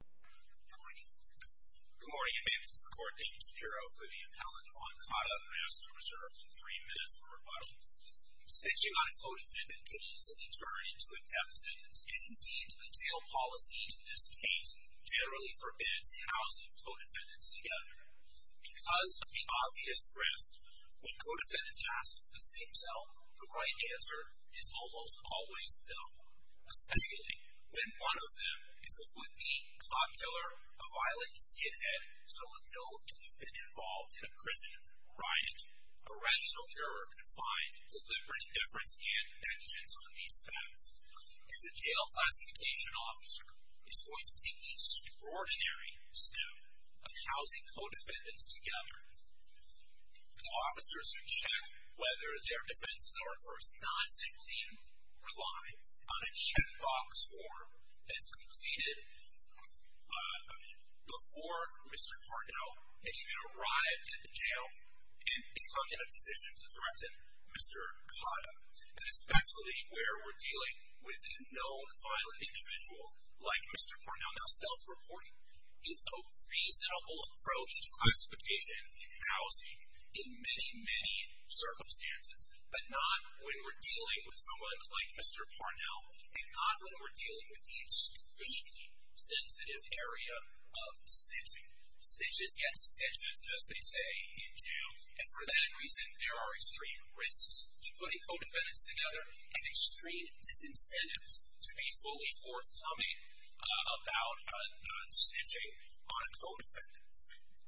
Good morning. Good morning, and may it please the court, David Shapiro for the appellant, Yvonne Cotta, who has to reserve three minutes for rebuttal. Sentencing on a co-defendant can easily turn into a death sentence, and indeed the jail policy in this case generally forbids housing co-defendants together. Because of the obvious risk, when co-defendants ask for the same cell, the right answer is almost always no, especially when one of them is a would-be club killer, a violent skid-head, someone known to have been involved in a prison riot. A rational juror can find deliberate indifference and negligence on these facts, and the jail classification officer is going to take the extraordinary step of housing co-defendants together. Officers who check whether their defenses are at first not simply rely on a checkbox form that's completed before Mr. Carnell had even arrived at the jail and become in a position to threaten Mr. Cotta. And especially where we're dealing with a known violent individual like Mr. Carnell, is a reasonable approach to classification in housing in many, many circumstances, but not when we're dealing with someone like Mr. Carnell, and not when we're dealing with the extremely sensitive area of snitching. Snitches get snitches, as they say in jail, and for that reason there are extreme risks to putting co-defendants together and extreme disincentives to be fully forthcoming about the snitching on a co-defendant.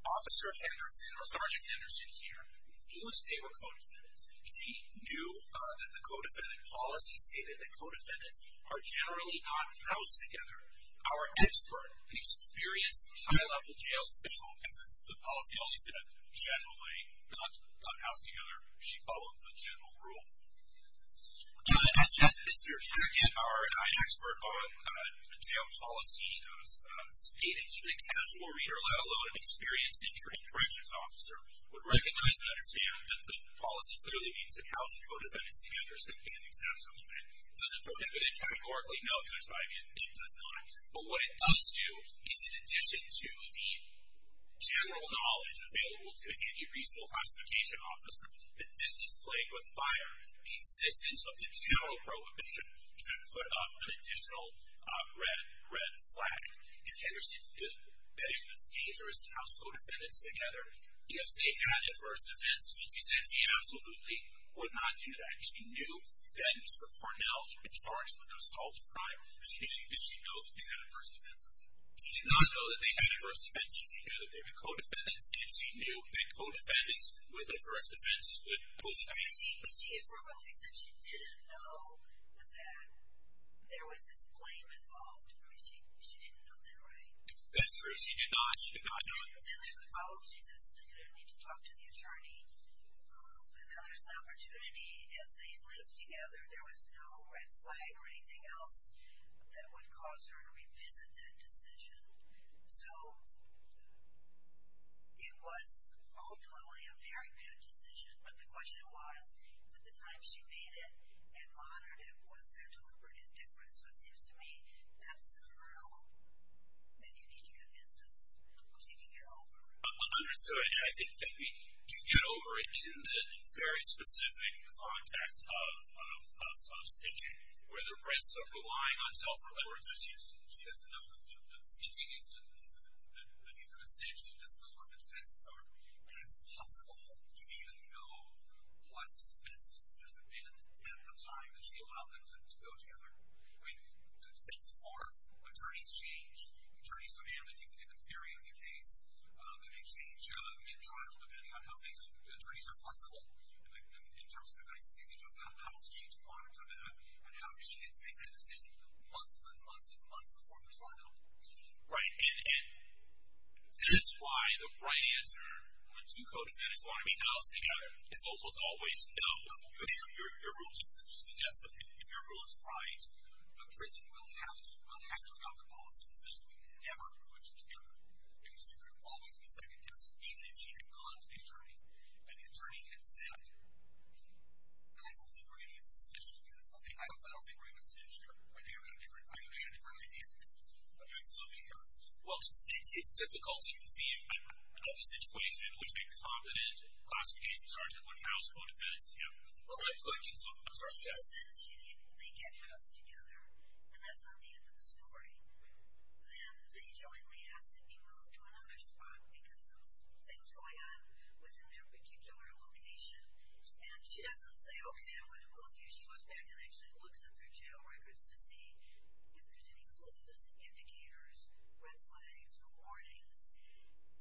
Officer Anderson, or Sergeant Anderson here, knew that they were co-defendants. She knew that the co-defendant policy stated that co-defendants are generally not housed together. Our expert, an experienced high-level jail official, and since the policy only said generally not housed together, she followed the general rule. As Mr. Hackett, our expert on jail policy stated, even a casual reader, let alone an experienced injury and corrections officer, would recognize and understand that the policy clearly means that housing co-defendants together is completely unacceptable. Does it prohibit it categorically? No, Judge Bygand, it does not. But what it does do is, in addition to the general knowledge available to any reasonable classification officer, that this is plagued with fire, the existence of the general prohibition should put up an additional red flag. And Henderson knew that it was dangerous to house co-defendants together if they had adverse defenses, and she said she absolutely would not do that. She knew that Mr. Parnell would be charged with an assault of crime. Did she know that they had adverse defenses? She did not know that they had adverse defenses. She knew that they were co-defendants, and she knew that co-defendants with adverse defenses would pose a danger. But she affirmably said she didn't know that there was this blame involved. I mean, she didn't know that, right? That's true. She did not. She did not know it. And then there's the follow-up. She says, no, you don't need to talk to the attorney. And then there's the opportunity, if they live together, there was no red flag or anything else that would cause her to revisit that decision. So it was ultimately a very bad decision. But the question was, at the time she made it and monitored it, was there deliberate indifference? So it seems to me that's the hurdle that you need to convince us so she can get over. Understood. And I think that we do get over it in the very specific context of Stitcher, where the risks of relying on self-reliance. So she doesn't know that he's going to snitch. She doesn't know what the defenses are. And it's possible to even know what his defenses would have been at the time that she allowed them to go together. I mean, the defenses are, attorneys change. Attorneys demand that you can give them theory on your case. They may change in trial, depending on how things are. Attorneys are flexible in terms of the kinds of things you do. How does she monitor that? And how does she get to make that decision months and months and months before the trial? Right. And that's why the right answer, when two codices want to be housed together, is almost always no. Your rule just suggests that if your rule is right, the prison will have to adopt a policy that says we can never put you together, because you could always be second-guessed, even if she had gone to the attorney and the attorney had said, I don't think we're going to use a snitch defense. I don't think we're going to snitch there. I think I've got a different idea. You'd still be here. Well, it's difficult to conceive of a situation in which a competent classification sergeant would house co-defense together. Well, she defends they get housed together, and that's not the end of the story. Then they jointly have to be moved to another spot because of things going on within their particular location, and she doesn't say, okay, I'm going to move you. She goes back and actually looks at their jail records to see if there's any clues, indicators, red flags, or warnings.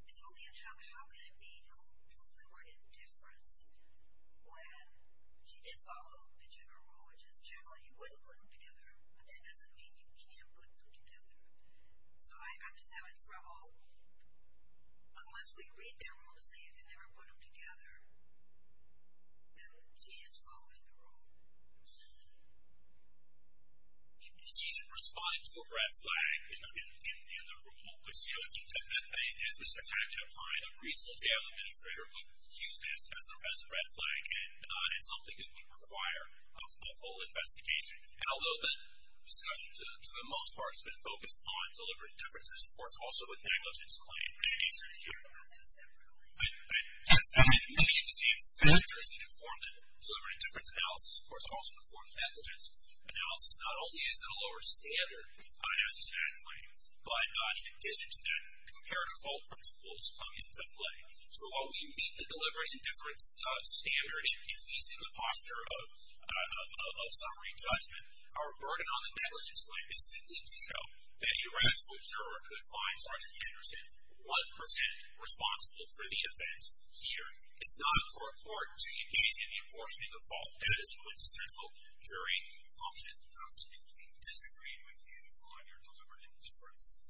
It's only a how can it be a deliberate indifference when she did follow the general rule, which is generally you wouldn't put them together, but that doesn't mean you can't put them together. So I'm just having trouble, unless we read their rule to say you can never put them together, and she is following the rule. She's responding to a red flag in the rule, which, you know, seems like a good thing as Mr. Hackett opined, a reasonable jail administrator would use this as a red flag and something that would require a full investigation. And although the discussion to the most part has been focused on deliberate indifference, there's, of course, also a negligence claim. I need you to hear this separately. Yes, I mean, maybe you can see a factor in the form of deliberate indifference analysis. Of course, also in the form of negligence analysis, not only is it a lower standard as is that claim, but in addition to that, comparative fault principles come into play. So while we meet the deliberate indifference standard, at least in the posture of summary judgment, our burden on the negligence claim is simply to show that a rational juror could find Sergeant Anderson 1% responsible for the offense here. It's not for a court to engage in the apportioning of fault. That is what the central jury functions. Counsel, in disagreeing with you on your deliberate indifference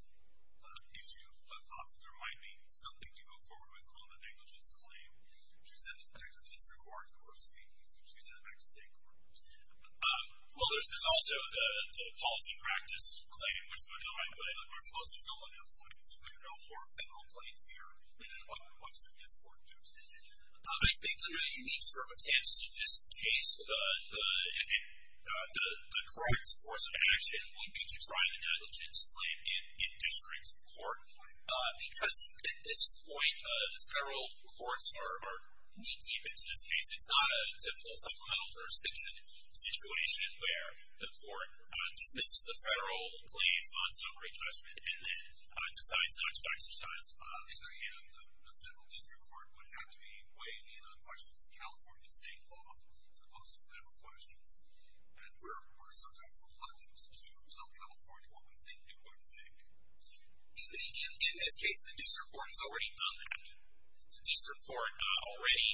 issue, I thought that there might be something to go forward with on the negligence claim. Should we send this back to district court, or should we send it back to state court? Well, there's also the policy practice claim, which goes along with it. Well, there's no more federal claims here. What should this court do? I think under the unique circumstances of this case, the correct course of action would be to try the negligence claim in district court, because at this point, the federal courts are knee-deep into this case. It's not a typical supplemental jurisdiction situation where the court dismisses the federal claims on summary judgment and then decides not to exercise. On the other hand, the federal district court would have to be weighing in on questions of California state law. So most of them are questions. And we're sometimes reluctant to tell California what we think they're going to think. In this case, the district court has already done that. The district court already,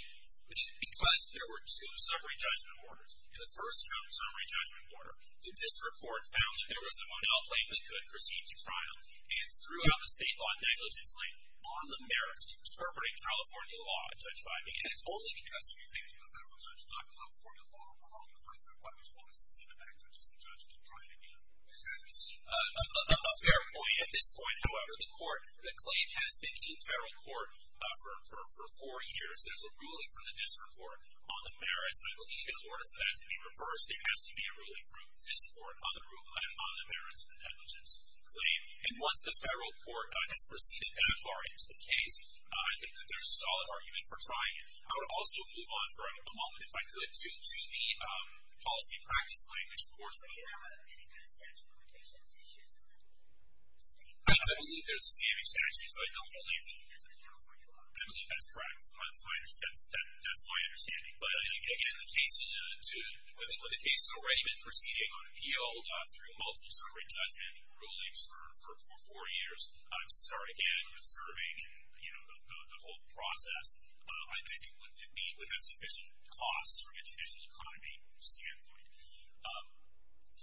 because there were two summary judgment orders. In the first two summary judgment orders, the district court found that there was a Monell claim that could proceed to trial, and threw out the state law negligence claim on the merits, interpreting California law, judged by me. And it's only because you think the federal judge looked up California law wrongly in the first three questions and wanted to send it back to a district judge to try it again. A fair point. At this point, however, the claim has been in federal court for four years. There's a ruling from the district court on the merits. I believe in order for that to be reversed, there has to be a ruling from this court on the merits of the negligence claim. And once the federal court has proceeded that far into the case, I think that there's a solid argument for trying it. I would also move on for a moment, if I could, to the policy practice claim, which, of course, we have. Do you have any kind of statute of limitations issues in that case? I believe there's a standing statute, so I don't believe that. In California law? I believe that's correct. That's my understanding. But, again, when the case has already been proceeding on appeal, through multiple survey judgments and rulings for four years, to start again with surveying and the whole process, I think it would have sufficient costs from a traditional economy standpoint.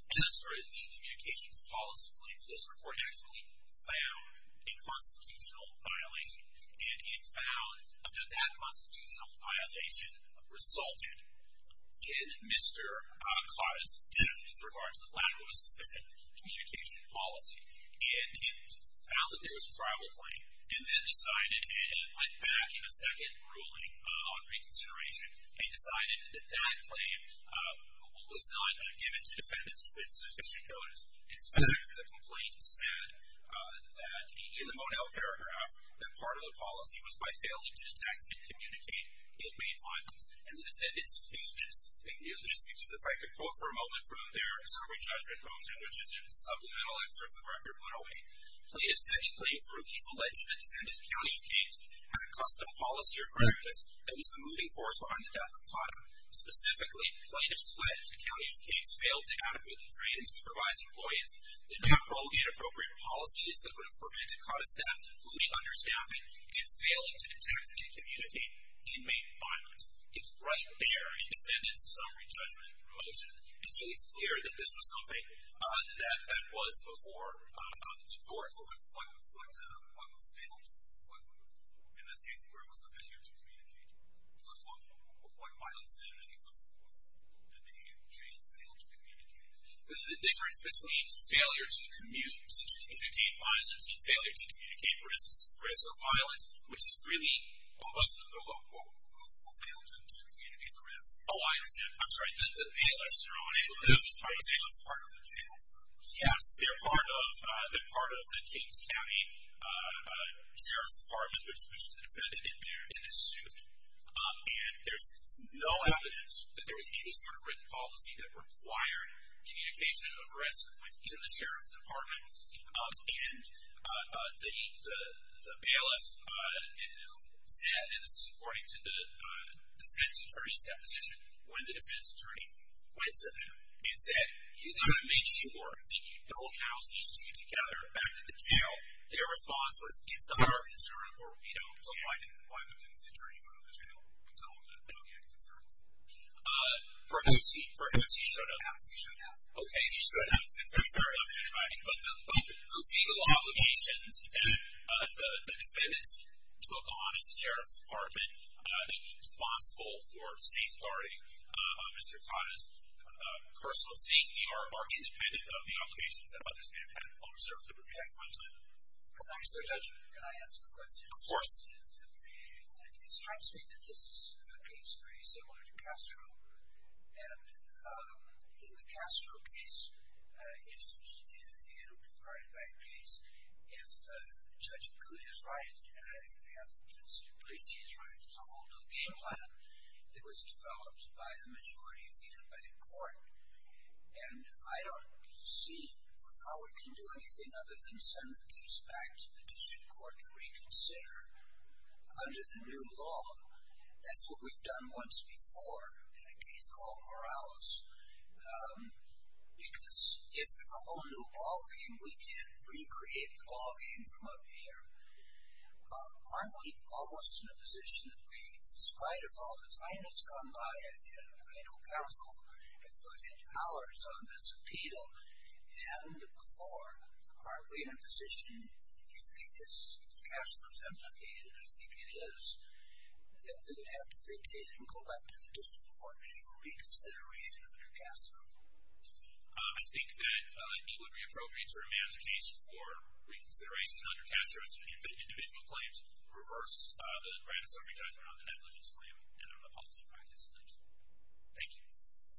As I started the communications policy claim, the district court actually found a constitutional violation. And it found that that constitutional violation resulted in Mr. Cotta's death with regard to the lack of a sufficient communication policy. And it found that there was a trial claim and then decided and went back in a second ruling on reconsideration and decided that that claim was not given to defendants with sufficient notice. In fact, the complaint said that, in the Monell paragraph, that part of the policy was by failing to detect and communicate inmate violence. And the defendant's speeches, if I could quote for a moment from their assembly judgment motion, which is in the supplemental excerpt of Record 108. The plaintiff said he claimed for repeal led to the defendant's county of caves. As a custom policy or practice, that was the moving force behind the death of Cotta. Specifically, plaintiffs pledged the county of caves failed to adequately train and supervise employees, did not prolong inappropriate policies that would have prevented Cotta's death, including understaffing, and failing to detect and communicate inmate violence. It's right there in defendants' assembly judgment motion. And so it's clear that this was something that was before the district court. In this case, where was the failure to communicate? What violence did the jail fail to communicate? The difference between failure to communicate violence and failure to communicate risks of violence, which is really- Who failed to communicate the risk? Oh, I understand. I'm sorry. The bailiffs are unable to- Are the bailiffs part of the jail force? Yes, they're part of the Kings County Sheriff's Department, which is the defendant in there in his suit. And there's no evidence that there was any sort of written policy that required communication of risk with either the Sheriff's Department. And the bailiff said, and this is according to the defense attorney's opinion, he said, you've got to make sure that you build houses together back in the jail. Their response was, it's not our concern or we don't care. But why didn't the attorney go to the jail and tell them that he had concerns? Perhaps he should have. Perhaps he should have. Okay, he should have. That's very often tried. But the legal obligations that the defendants took on as the Sheriff's role for safeguarding Mr. Cotta's personal safety are independent of the obligations that others may have had on reserve to protect one another. Thanks, Mr. Judge. Can I ask a question? Of course. It strikes me that this is a case very similar to Castro. And in the Castro case, it's just an inappropriate bank case. If the judge knew his rights and had a chance to police his rights to hold a game plan that was developed by the majority of the inebriate court, and I don't see how we can do anything other than send the case back to the district court to reconsider under the new law. That's what we've done once before in a case called Morales. Because if a whole new ballgame weekend, recreate the ballgame from up here, aren't we almost in a position that we, in spite of all the time that's gone by, and I know counsel has put in hours on this appeal, and before, aren't we in a position, if Castro's implicated, and I think it is, that we would have to take the case and go back to the district court for reconsideration under Castro? I think that it would be appropriate to remand the case for reconsideration under Castro's individual claims, reverse the grant of summary judgment on the negligence claim, and on the policy practice claims. Thank you.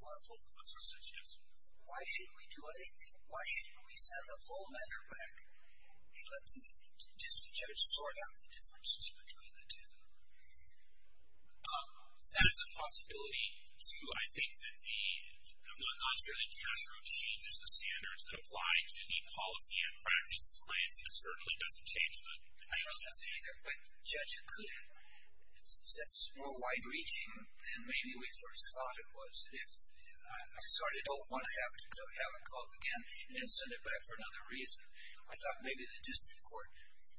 One more question. Yes. Why shouldn't we do anything? Why shouldn't we send the whole matter back and let the district judge sort out the differences between the two? That is a possibility, too. I think that the, I'm not sure that Castro changes the standards that apply to the policy and practice claims, and it certainly doesn't change the negligence claims. I was going to say that if the judge could, since it's more wide-reaching than maybe we first thought it was, I'm sorry, I don't want to have to have it called again and send it back for another reason. I thought maybe the district court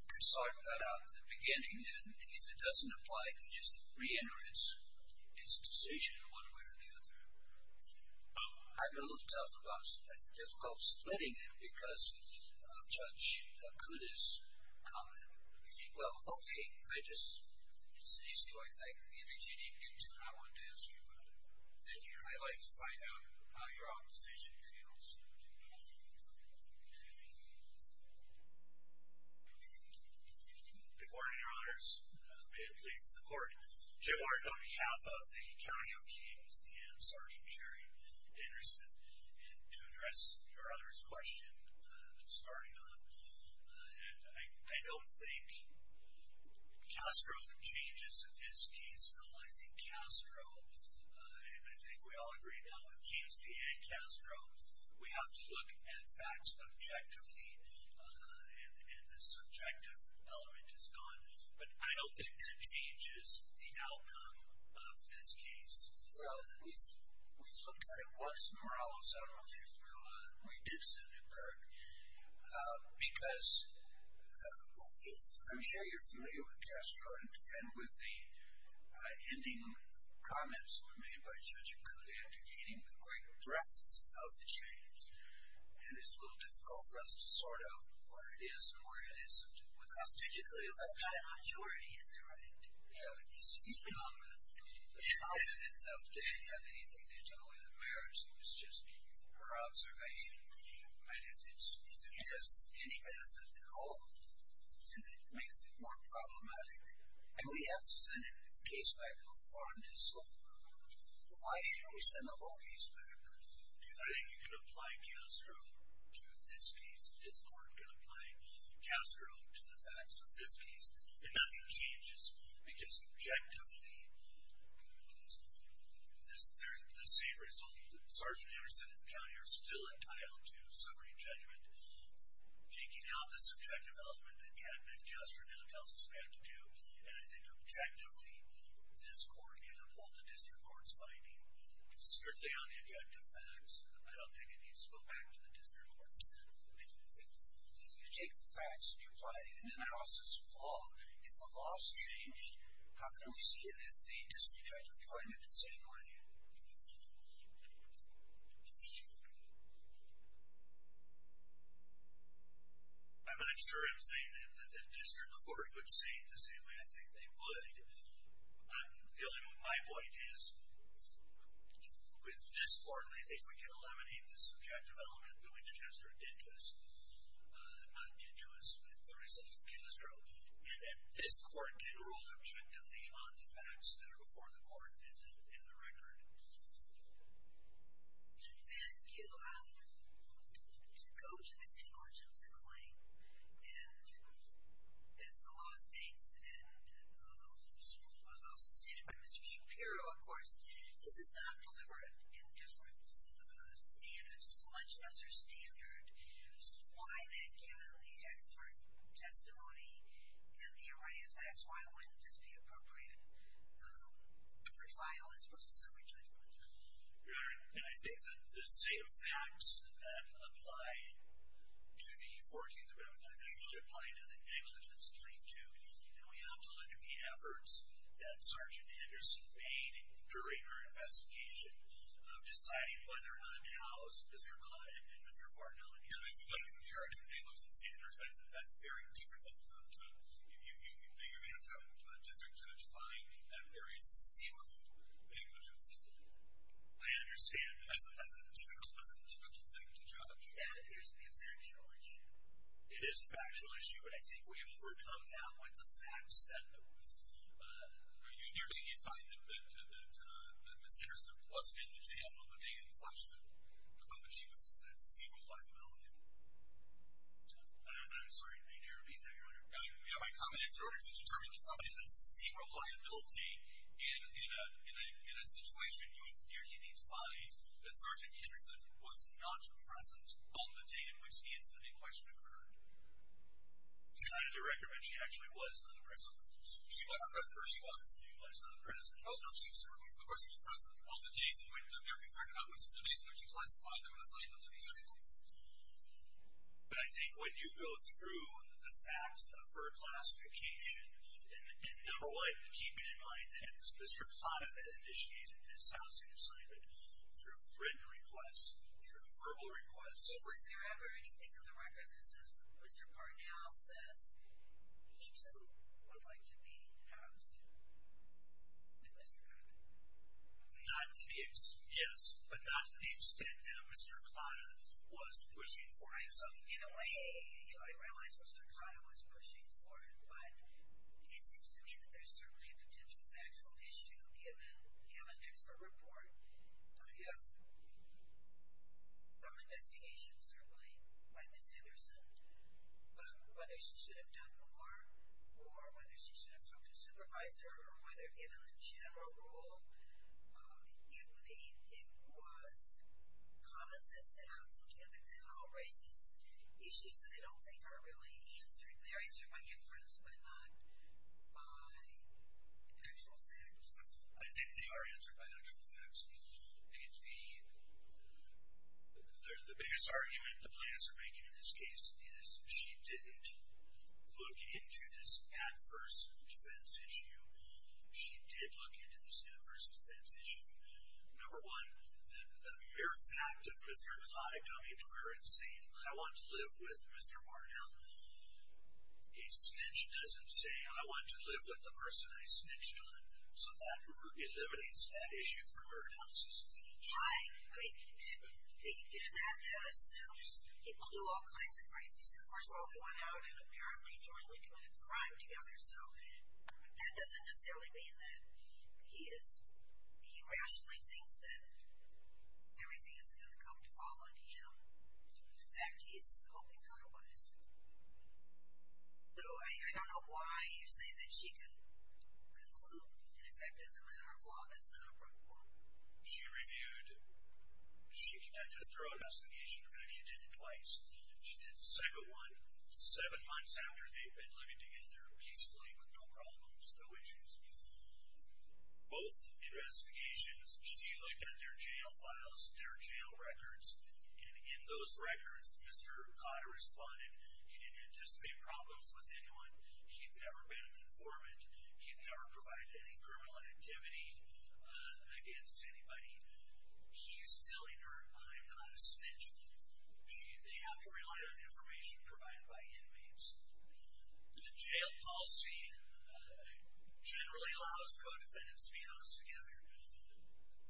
could sort that out at the beginning. If it doesn't apply, it could just re-enter its decision one way or the other. I've been a little tough about splitting, difficult splitting it because of Judge Lakuta's comment. Well, okay. I just, you see what I think? You didn't get to it. I wanted to ask you about it. Thank you. I'd like to find out how your opposition feels. Good morning, Your Honors. May it please the court. Good morning. On behalf of the County of Kings and Sergeant Jerry Anderson, and to address Your Honors' question that I'm starting on, and I don't think Castro changes in this case. No, I think Castro, and I think we all agree now with Kings v. A. Castro, we have to look at facts objectively, and the subjective element is gone. But I don't think that changes the outcome of this case. No, we've looked at it once more. I don't know if you're thrilled that we did, Senator Burke, because I'm sure you're familiar with Castro and with the ending comments that were made by Judge Lakuta indicating the greater breadth of the change, and it's a little difficult for us to sort out what it is and where it isn't. It's not a majority, is it, right? Yeah, but it's just a comment. It's a comment. They didn't have anything they told me that matters. It was just her observation. And if it's any benefit at all, then it makes it more problematic. And we have sent a case back before on this, so why should we send a whole case back? Because I think you can apply Castro to this case, and this court can apply Castro to the facts of this case, and nothing changes, because objectively, the same result that Sergeant Anderson and the county are still entitled to summary judgment, taking out the subjective element that Castro now tells us we have to do, and I think objectively, this court can uphold the district court's finding. Strictly on the objective facts, I don't think it needs to go back to the district court. You take the facts and you apply it in an analysis of the law. If the law is changed, how can we see it if the district judge would find it the same way? I'm not sure I'm saying that the district court would see it the same way I think they would. The only my point is, with this court, I think we can eliminate the subjective element of which Castro did to us, not did to us, but the result of Castro, and then this court can rule objectively on the facts that are before the court in the record. Thank you. To go to the negligence claim, and as the law states, and was also stated by Mr. Shapiro, of course, this is not deliberate in terms of standards, it's a much lesser standard. Why that, given the expert testimony and the array of facts, why wouldn't this be appropriate for trial as opposed to subjection? Your Honor, I think that the same facts that apply to the 14th Amendment actually apply to the negligence claim, too, and we have to look at the efforts that Sergeant Anderson made during our investigation of deciding whether or not to house Mr. Mullen and Mr. Barnhill in California. Your Honor, if you compare it to negligence standards, that's very different. You may have to have a district judge find that very similar negligence. I understand. That's a typical thing to judge. That appears to be a factual issue. It is a factual issue, but I think we've overcome that with the facts that... You nearly defied them that Ms. Henderson wasn't in the jail on the day in question, but she was at zero liability. I'm sorry, can you repeat that, Your Honor? Yeah, my comment is in order to determine that somebody has zero liability in a situation you would nearly defy that Sergeant Henderson was not present on the day in which the incident in question occurred. So you're trying to recommend she actually was present? She wasn't present, or she was? She was present. Of course she was present on the days in which the Americans reckoned on which of the days in which you classified them and assigned them to these jails. But I think when you go through the facts for classification, and number one, keep it in mind that it was Mr. Cotta that initiated this housing assignment through written requests, through verbal requests. Was there ever anything in the record that says Mr. Parnell says he too would like to be housed with Mr. Cotta? Not to the extent, yes, but not to the extent that Mr. Cotta was pushing for it. In a way, I realize Mr. Cotta was pushing for it, but it seems to me that there's certainly a potential factual issue given we have an expert report, we have some investigations certainly by Ms. Henderson, but whether she should have done more or whether she should have talked to a supervisor or whether given the general rule it was common sense that I was looking at the general races, these issues that I don't think are really answered. They are answered by inference, but not by actual fact. I think they are answered by actual facts. The biggest argument the plaintiffs are making in this case is she didn't look into this adverse defense issue. She did look into this adverse defense issue. Number one, the mere fact that Mr. Cotta coming to her and saying, I want to live with Mr. Barnhill, a snitch doesn't say I want to live with the person I snitched on, so that eliminates that issue from her analysis of the issue. That assumes people do all kinds of crazy stuff. First of all, they went out and apparently jointly committed the crime together, so that doesn't necessarily mean that he rationally thinks that everything is going to come to fall on him. In fact, he's hoping otherwise. I don't know why you say that she can conclude, in effect, as a matter of law, that's not appropriate. She had to throw an investigation. In fact, she did it twice. She did the second one seven months after they had been living together peacefully with no problems, no issues. Both investigations, she looked at their jail files, their jail records, and in those records, Mr. Cotta responded. He didn't anticipate problems with anyone. He'd never been a conformant. He'd never provided any criminal activity against anybody. He's telling her, I'm not a snitch. They have to rely on information provided by inmates. The jail policy generally allows co-defendants to be housed together.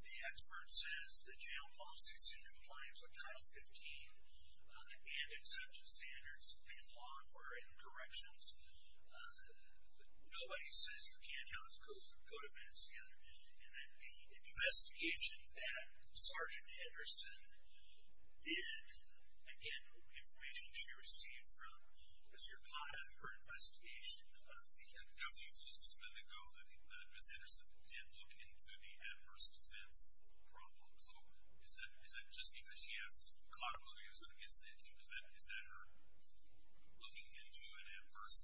The expert says the jail policy is in compliance with Title 15 and exception standards and law for corrections. Nobody says you can't house co-defendants together. The investigation that Sergeant Henderson did, again, information she received from Mr. Cotta, her investigation, the end of the list is going to go that Ms. Henderson did look into the adverse defense problem. So, is that just because she asked Cotta what he was going to get sent to? Is that her looking into an adverse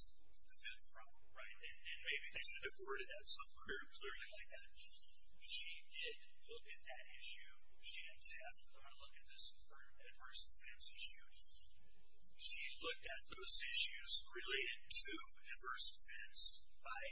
defense problem? Right. And maybe they should have worded that somewhere clearly like that. She did look at that issue. She did say, I'm going to look at this adverse defense issue. She looked at those issues related to adverse defense by,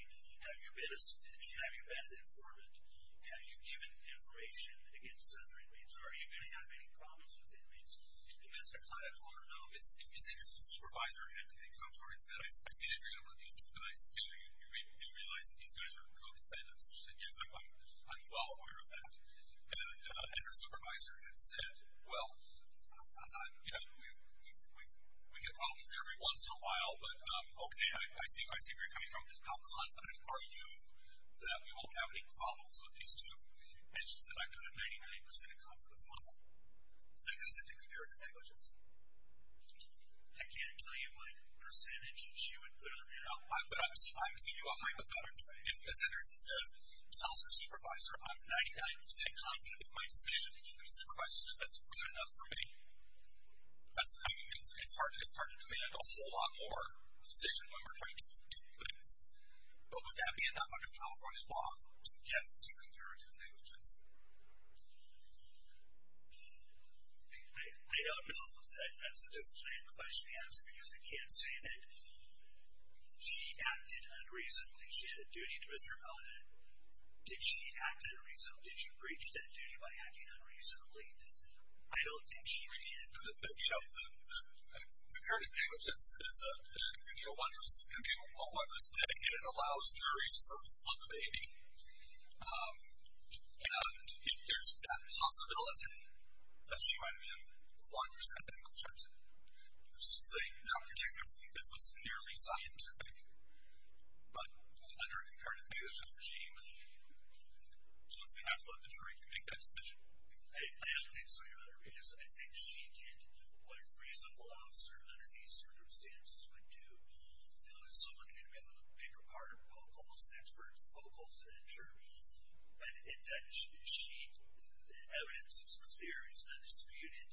have you been a snitch? Have you been an informant? Have you given information against other inmates? Are you going to have any problems with inmates? And Mr. Cotta told her, no. If you say this is the supervisor and the executor said, I see that you're going to put these two guys together. You realize that these guys are co-defendants. She said, yes, I'm well aware of that. And her supervisor had said, well, you know, we get problems every once in a while, but okay, I see where you're coming from. How confident are you that we won't have any problems with these two? And she said, I've got a 99% confidence level. So, I guess it compared to negligence. I can't tell you what percentage she would put on that. I'm giving you a hypothetical. If Ms. Henderson says, I'm the supervisor, I'm 99% confident in my decision. If you can be a supervisor, that's good enough for me. It's hard to demand a whole lot more decision when we're trying to do good things. But would that be enough under California law to get us to comparative negligence? I don't know that that's a difficult question to answer because I can't say that she acted unreasonably. She had a duty to Mr. Melvin. Did she act unreasonably? Did she breach that duty by acting unreasonably? I don't think she did. You know, the comparative negligence can be a wondrous thing and it allows juries to sort of split the baby. And there's that possibility that she might have been 100% negligent. Which is to say, not particularly. This was nearly scientific. But under a comparative negligence regime, it's on behalf of the jury to make that decision. I don't think so, Your Honor, because I think she did what a reasonable officer under these circumstances would do. You know, someone who would have been a bigger part of poll calls and experts, poll calls to ensure that she, the evidence is clear. It's not disputed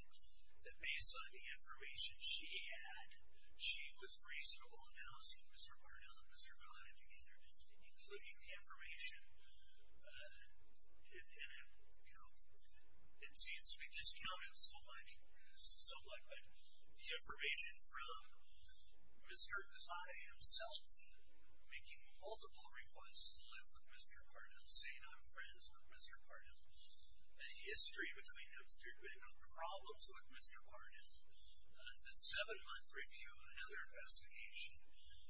that based on the information she had, she was reasonable in housing Mr. Cardell and Mr. Cotta together, including the affirmation and, you know, and since we discounted so much, the affirmation from Mr. Cotta himself making multiple requests to live with Mr. Cardell, saying I'm friends with Mr. Cardell. The history between them, there had been no problems with Mr. Cardell. The seven-month review of another investigation.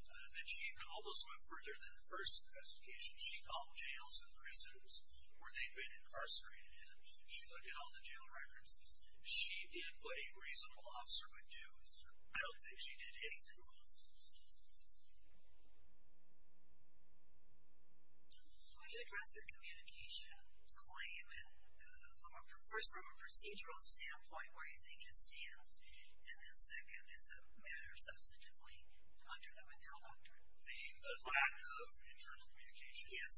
The Chief almost went further than the first investigation. She called jails and prisons where they'd been incarcerated in. She looked at all the jail records. She did what a reasonable officer would do. I don't think she did anything wrong. Can you address the communication claim first from a procedural standpoint where you think it stands and then second as a matter substantively under the McDowell Doctrine? The lack of internal communication? Yes.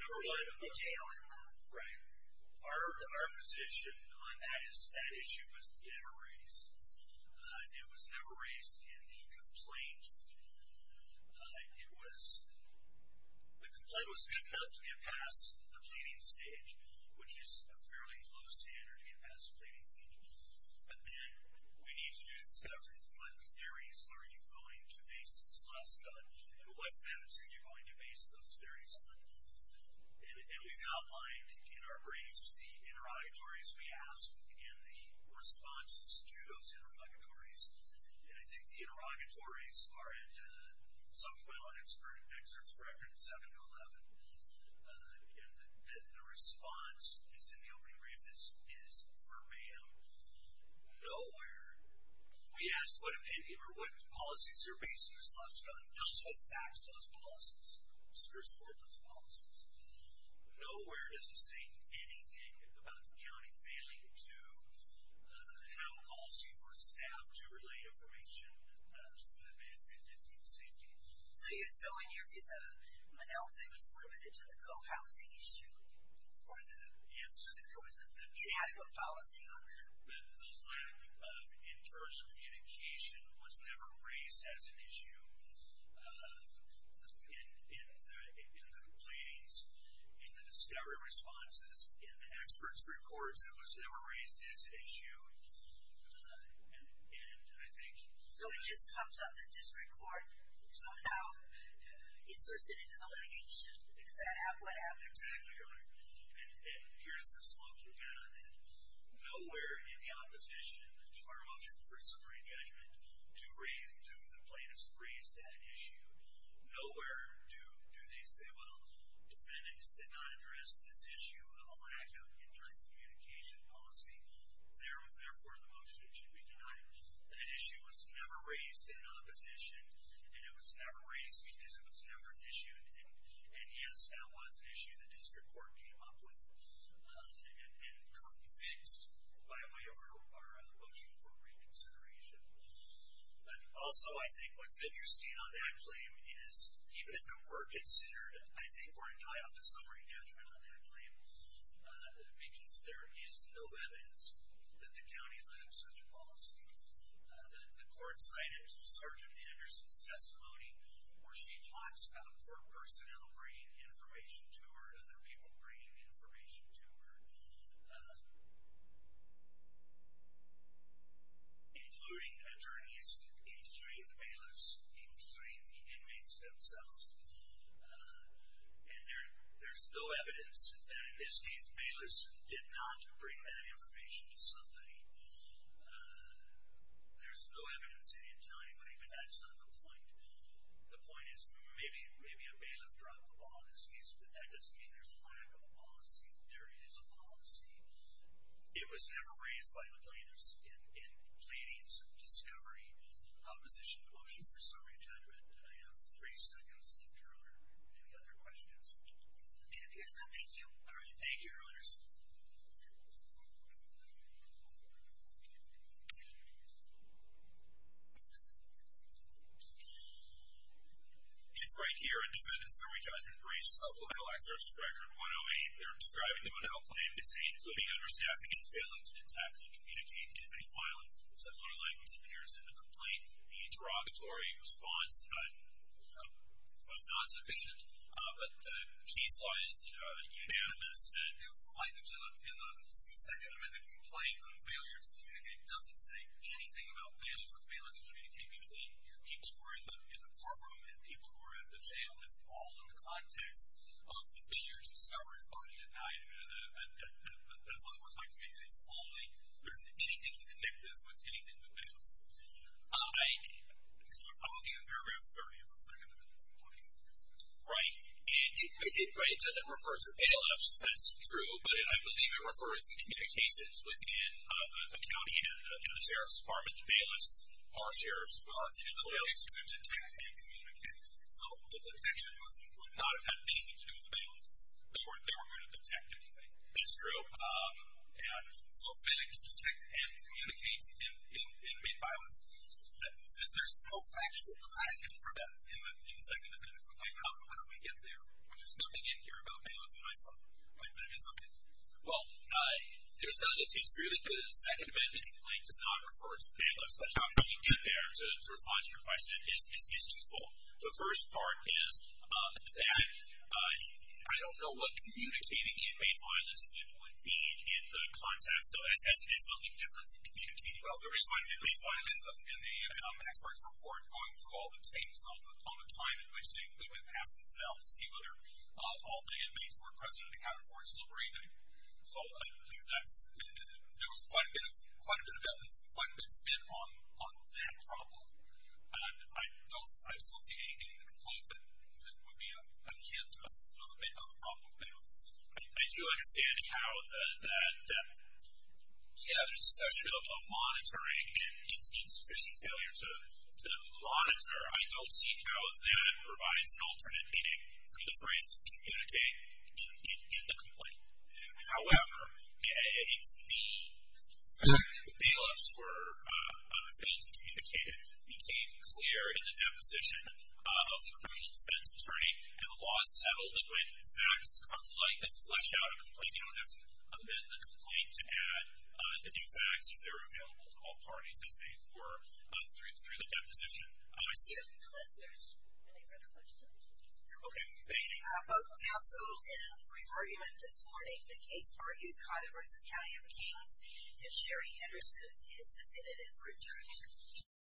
The jail and the... Right. Our position on that is that issue was never raised. It was never raised in the complaint. It was... The complaint was good enough to get past the pleading stage, which is a fairly low standard to get past the pleading stage, but then we need to discover what theories are you going to base this last on and what facts are you going to base those theories on? And we've outlined in our briefs the interrogatories we asked and the responses to those interrogatories. And I think the interrogatories are in some of my other excerpts for records 7 to 11. The response is in the opening brief is verbatim. Nowhere we ask what opinion or what policies you're basing this last on. Jails hold facts on those policies. Prisoners hold those policies. Nowhere does it say anything about the county failing to have a policy for staff to relay information for the benefit of human safety. So in your view, the Manel thing is limited to the co-housing issue? Yes. It had to put policy on that? The lack of internal communication was never raised as an issue in the pleadings, in the discovery responses, in the experts reports that were raised as an issue. And I think So it just comes up that district court somehow inserts it into the litigation? Exactly right. And here's the smoke you've got on it. Nowhere in the opposition to our motion for summary judgment do the plaintiffs raise that issue. Nowhere do they say, well defendants did not address this issue of a lack of intercommunication policy. Therefore the motion should be denied. That issue was never raised in opposition and it was never raised because it was never issued. And yes, that was an issue the district court came up with and convinced by way of our motion for reconsideration. But also I think what's interesting on that claim is even if it were considered, I think we're entitled to summary judgment on that claim because there is no evidence that the county lacks such a policy. The court cited Sgt. Anderson's testimony where she talks about court personnel bringing information to her and other people bringing information to her including attorneys, including the bailiffs, including the inmates themselves. And there's no evidence that in this case bailiffs did not bring that information to somebody. There's no evidence they didn't tell anybody but that's not the point. The point is maybe a bailiff dropped the ball in this case but that doesn't mean there's a lack of a policy. There is a policy. It was never raised by the plaintiffs in pleadings of discovery, opposition to motion for summary judgment. And I have three seconds left, Your Honor. Any other questions? Thank you. Thank you, Your Honors. It's right here in defendant's summary judgment brief supplemental excerpts of record 108. They're describing them in how plain they say including understaffing and failing to contact and communicate inmate violence. Similar language appears in the complaint. The interrogatory response was not sufficient but the key slide is unanimous and in the second amendment complaint on failure to communicate doesn't say anything about failure to communicate between people who are in the courtroom and people who are at the jail. It's all in the context of the failure to discover his body at night. That's what we're talking about. It's only, there's anything that connects this with anything with bailiffs. I'm looking at paragraph 30 of the second amendment complaint. Right. And it doesn't refer to bailiffs, that's true, but I believe it refers to communications within the county and the sheriff's department. The bailiffs are sheriffs. Well, it is a failure to detect and communicate. So the detection would not have had anything to do with the bailiffs if they were going to detect anything. That's true. And so failing to detect and communicate inmate violence, since there's no factual content for that in the second amendment complaint, how do we get there when there's nothing in here about bailiffs in my summary? Well, it's true that the second amendment complaint does not refer to bailiffs, but how do you get there to respond to your question is twofold. The first part is that I don't know what communicating inmate violence would mean in the context of this. Is something different from communicating inmate violence? Well, there is something different in the experts report going through all the tapes on the time in which they went past themselves to see whether all the inmates were present in the county court still breathing. So there was quite a bit of evidence, quite a bit spent on that problem. I don't associate any of the complaints that would be a hint a little bit on the problem with bailiffs. I do understand how that discussion of monitoring and its insufficient failure to monitor, I don't see how that provides an alternate meaning for the phrase communicate in the complaint. However, the fact that the bailiffs were failed to communicate it became clear in the deposition of the criminal defense attorney and the law is settled that when facts come to light that flesh out a complaint you don't have to amend the complaint to add the new facts as they're available to all parties as they were through the deposition. Any other questions? Okay, thank you.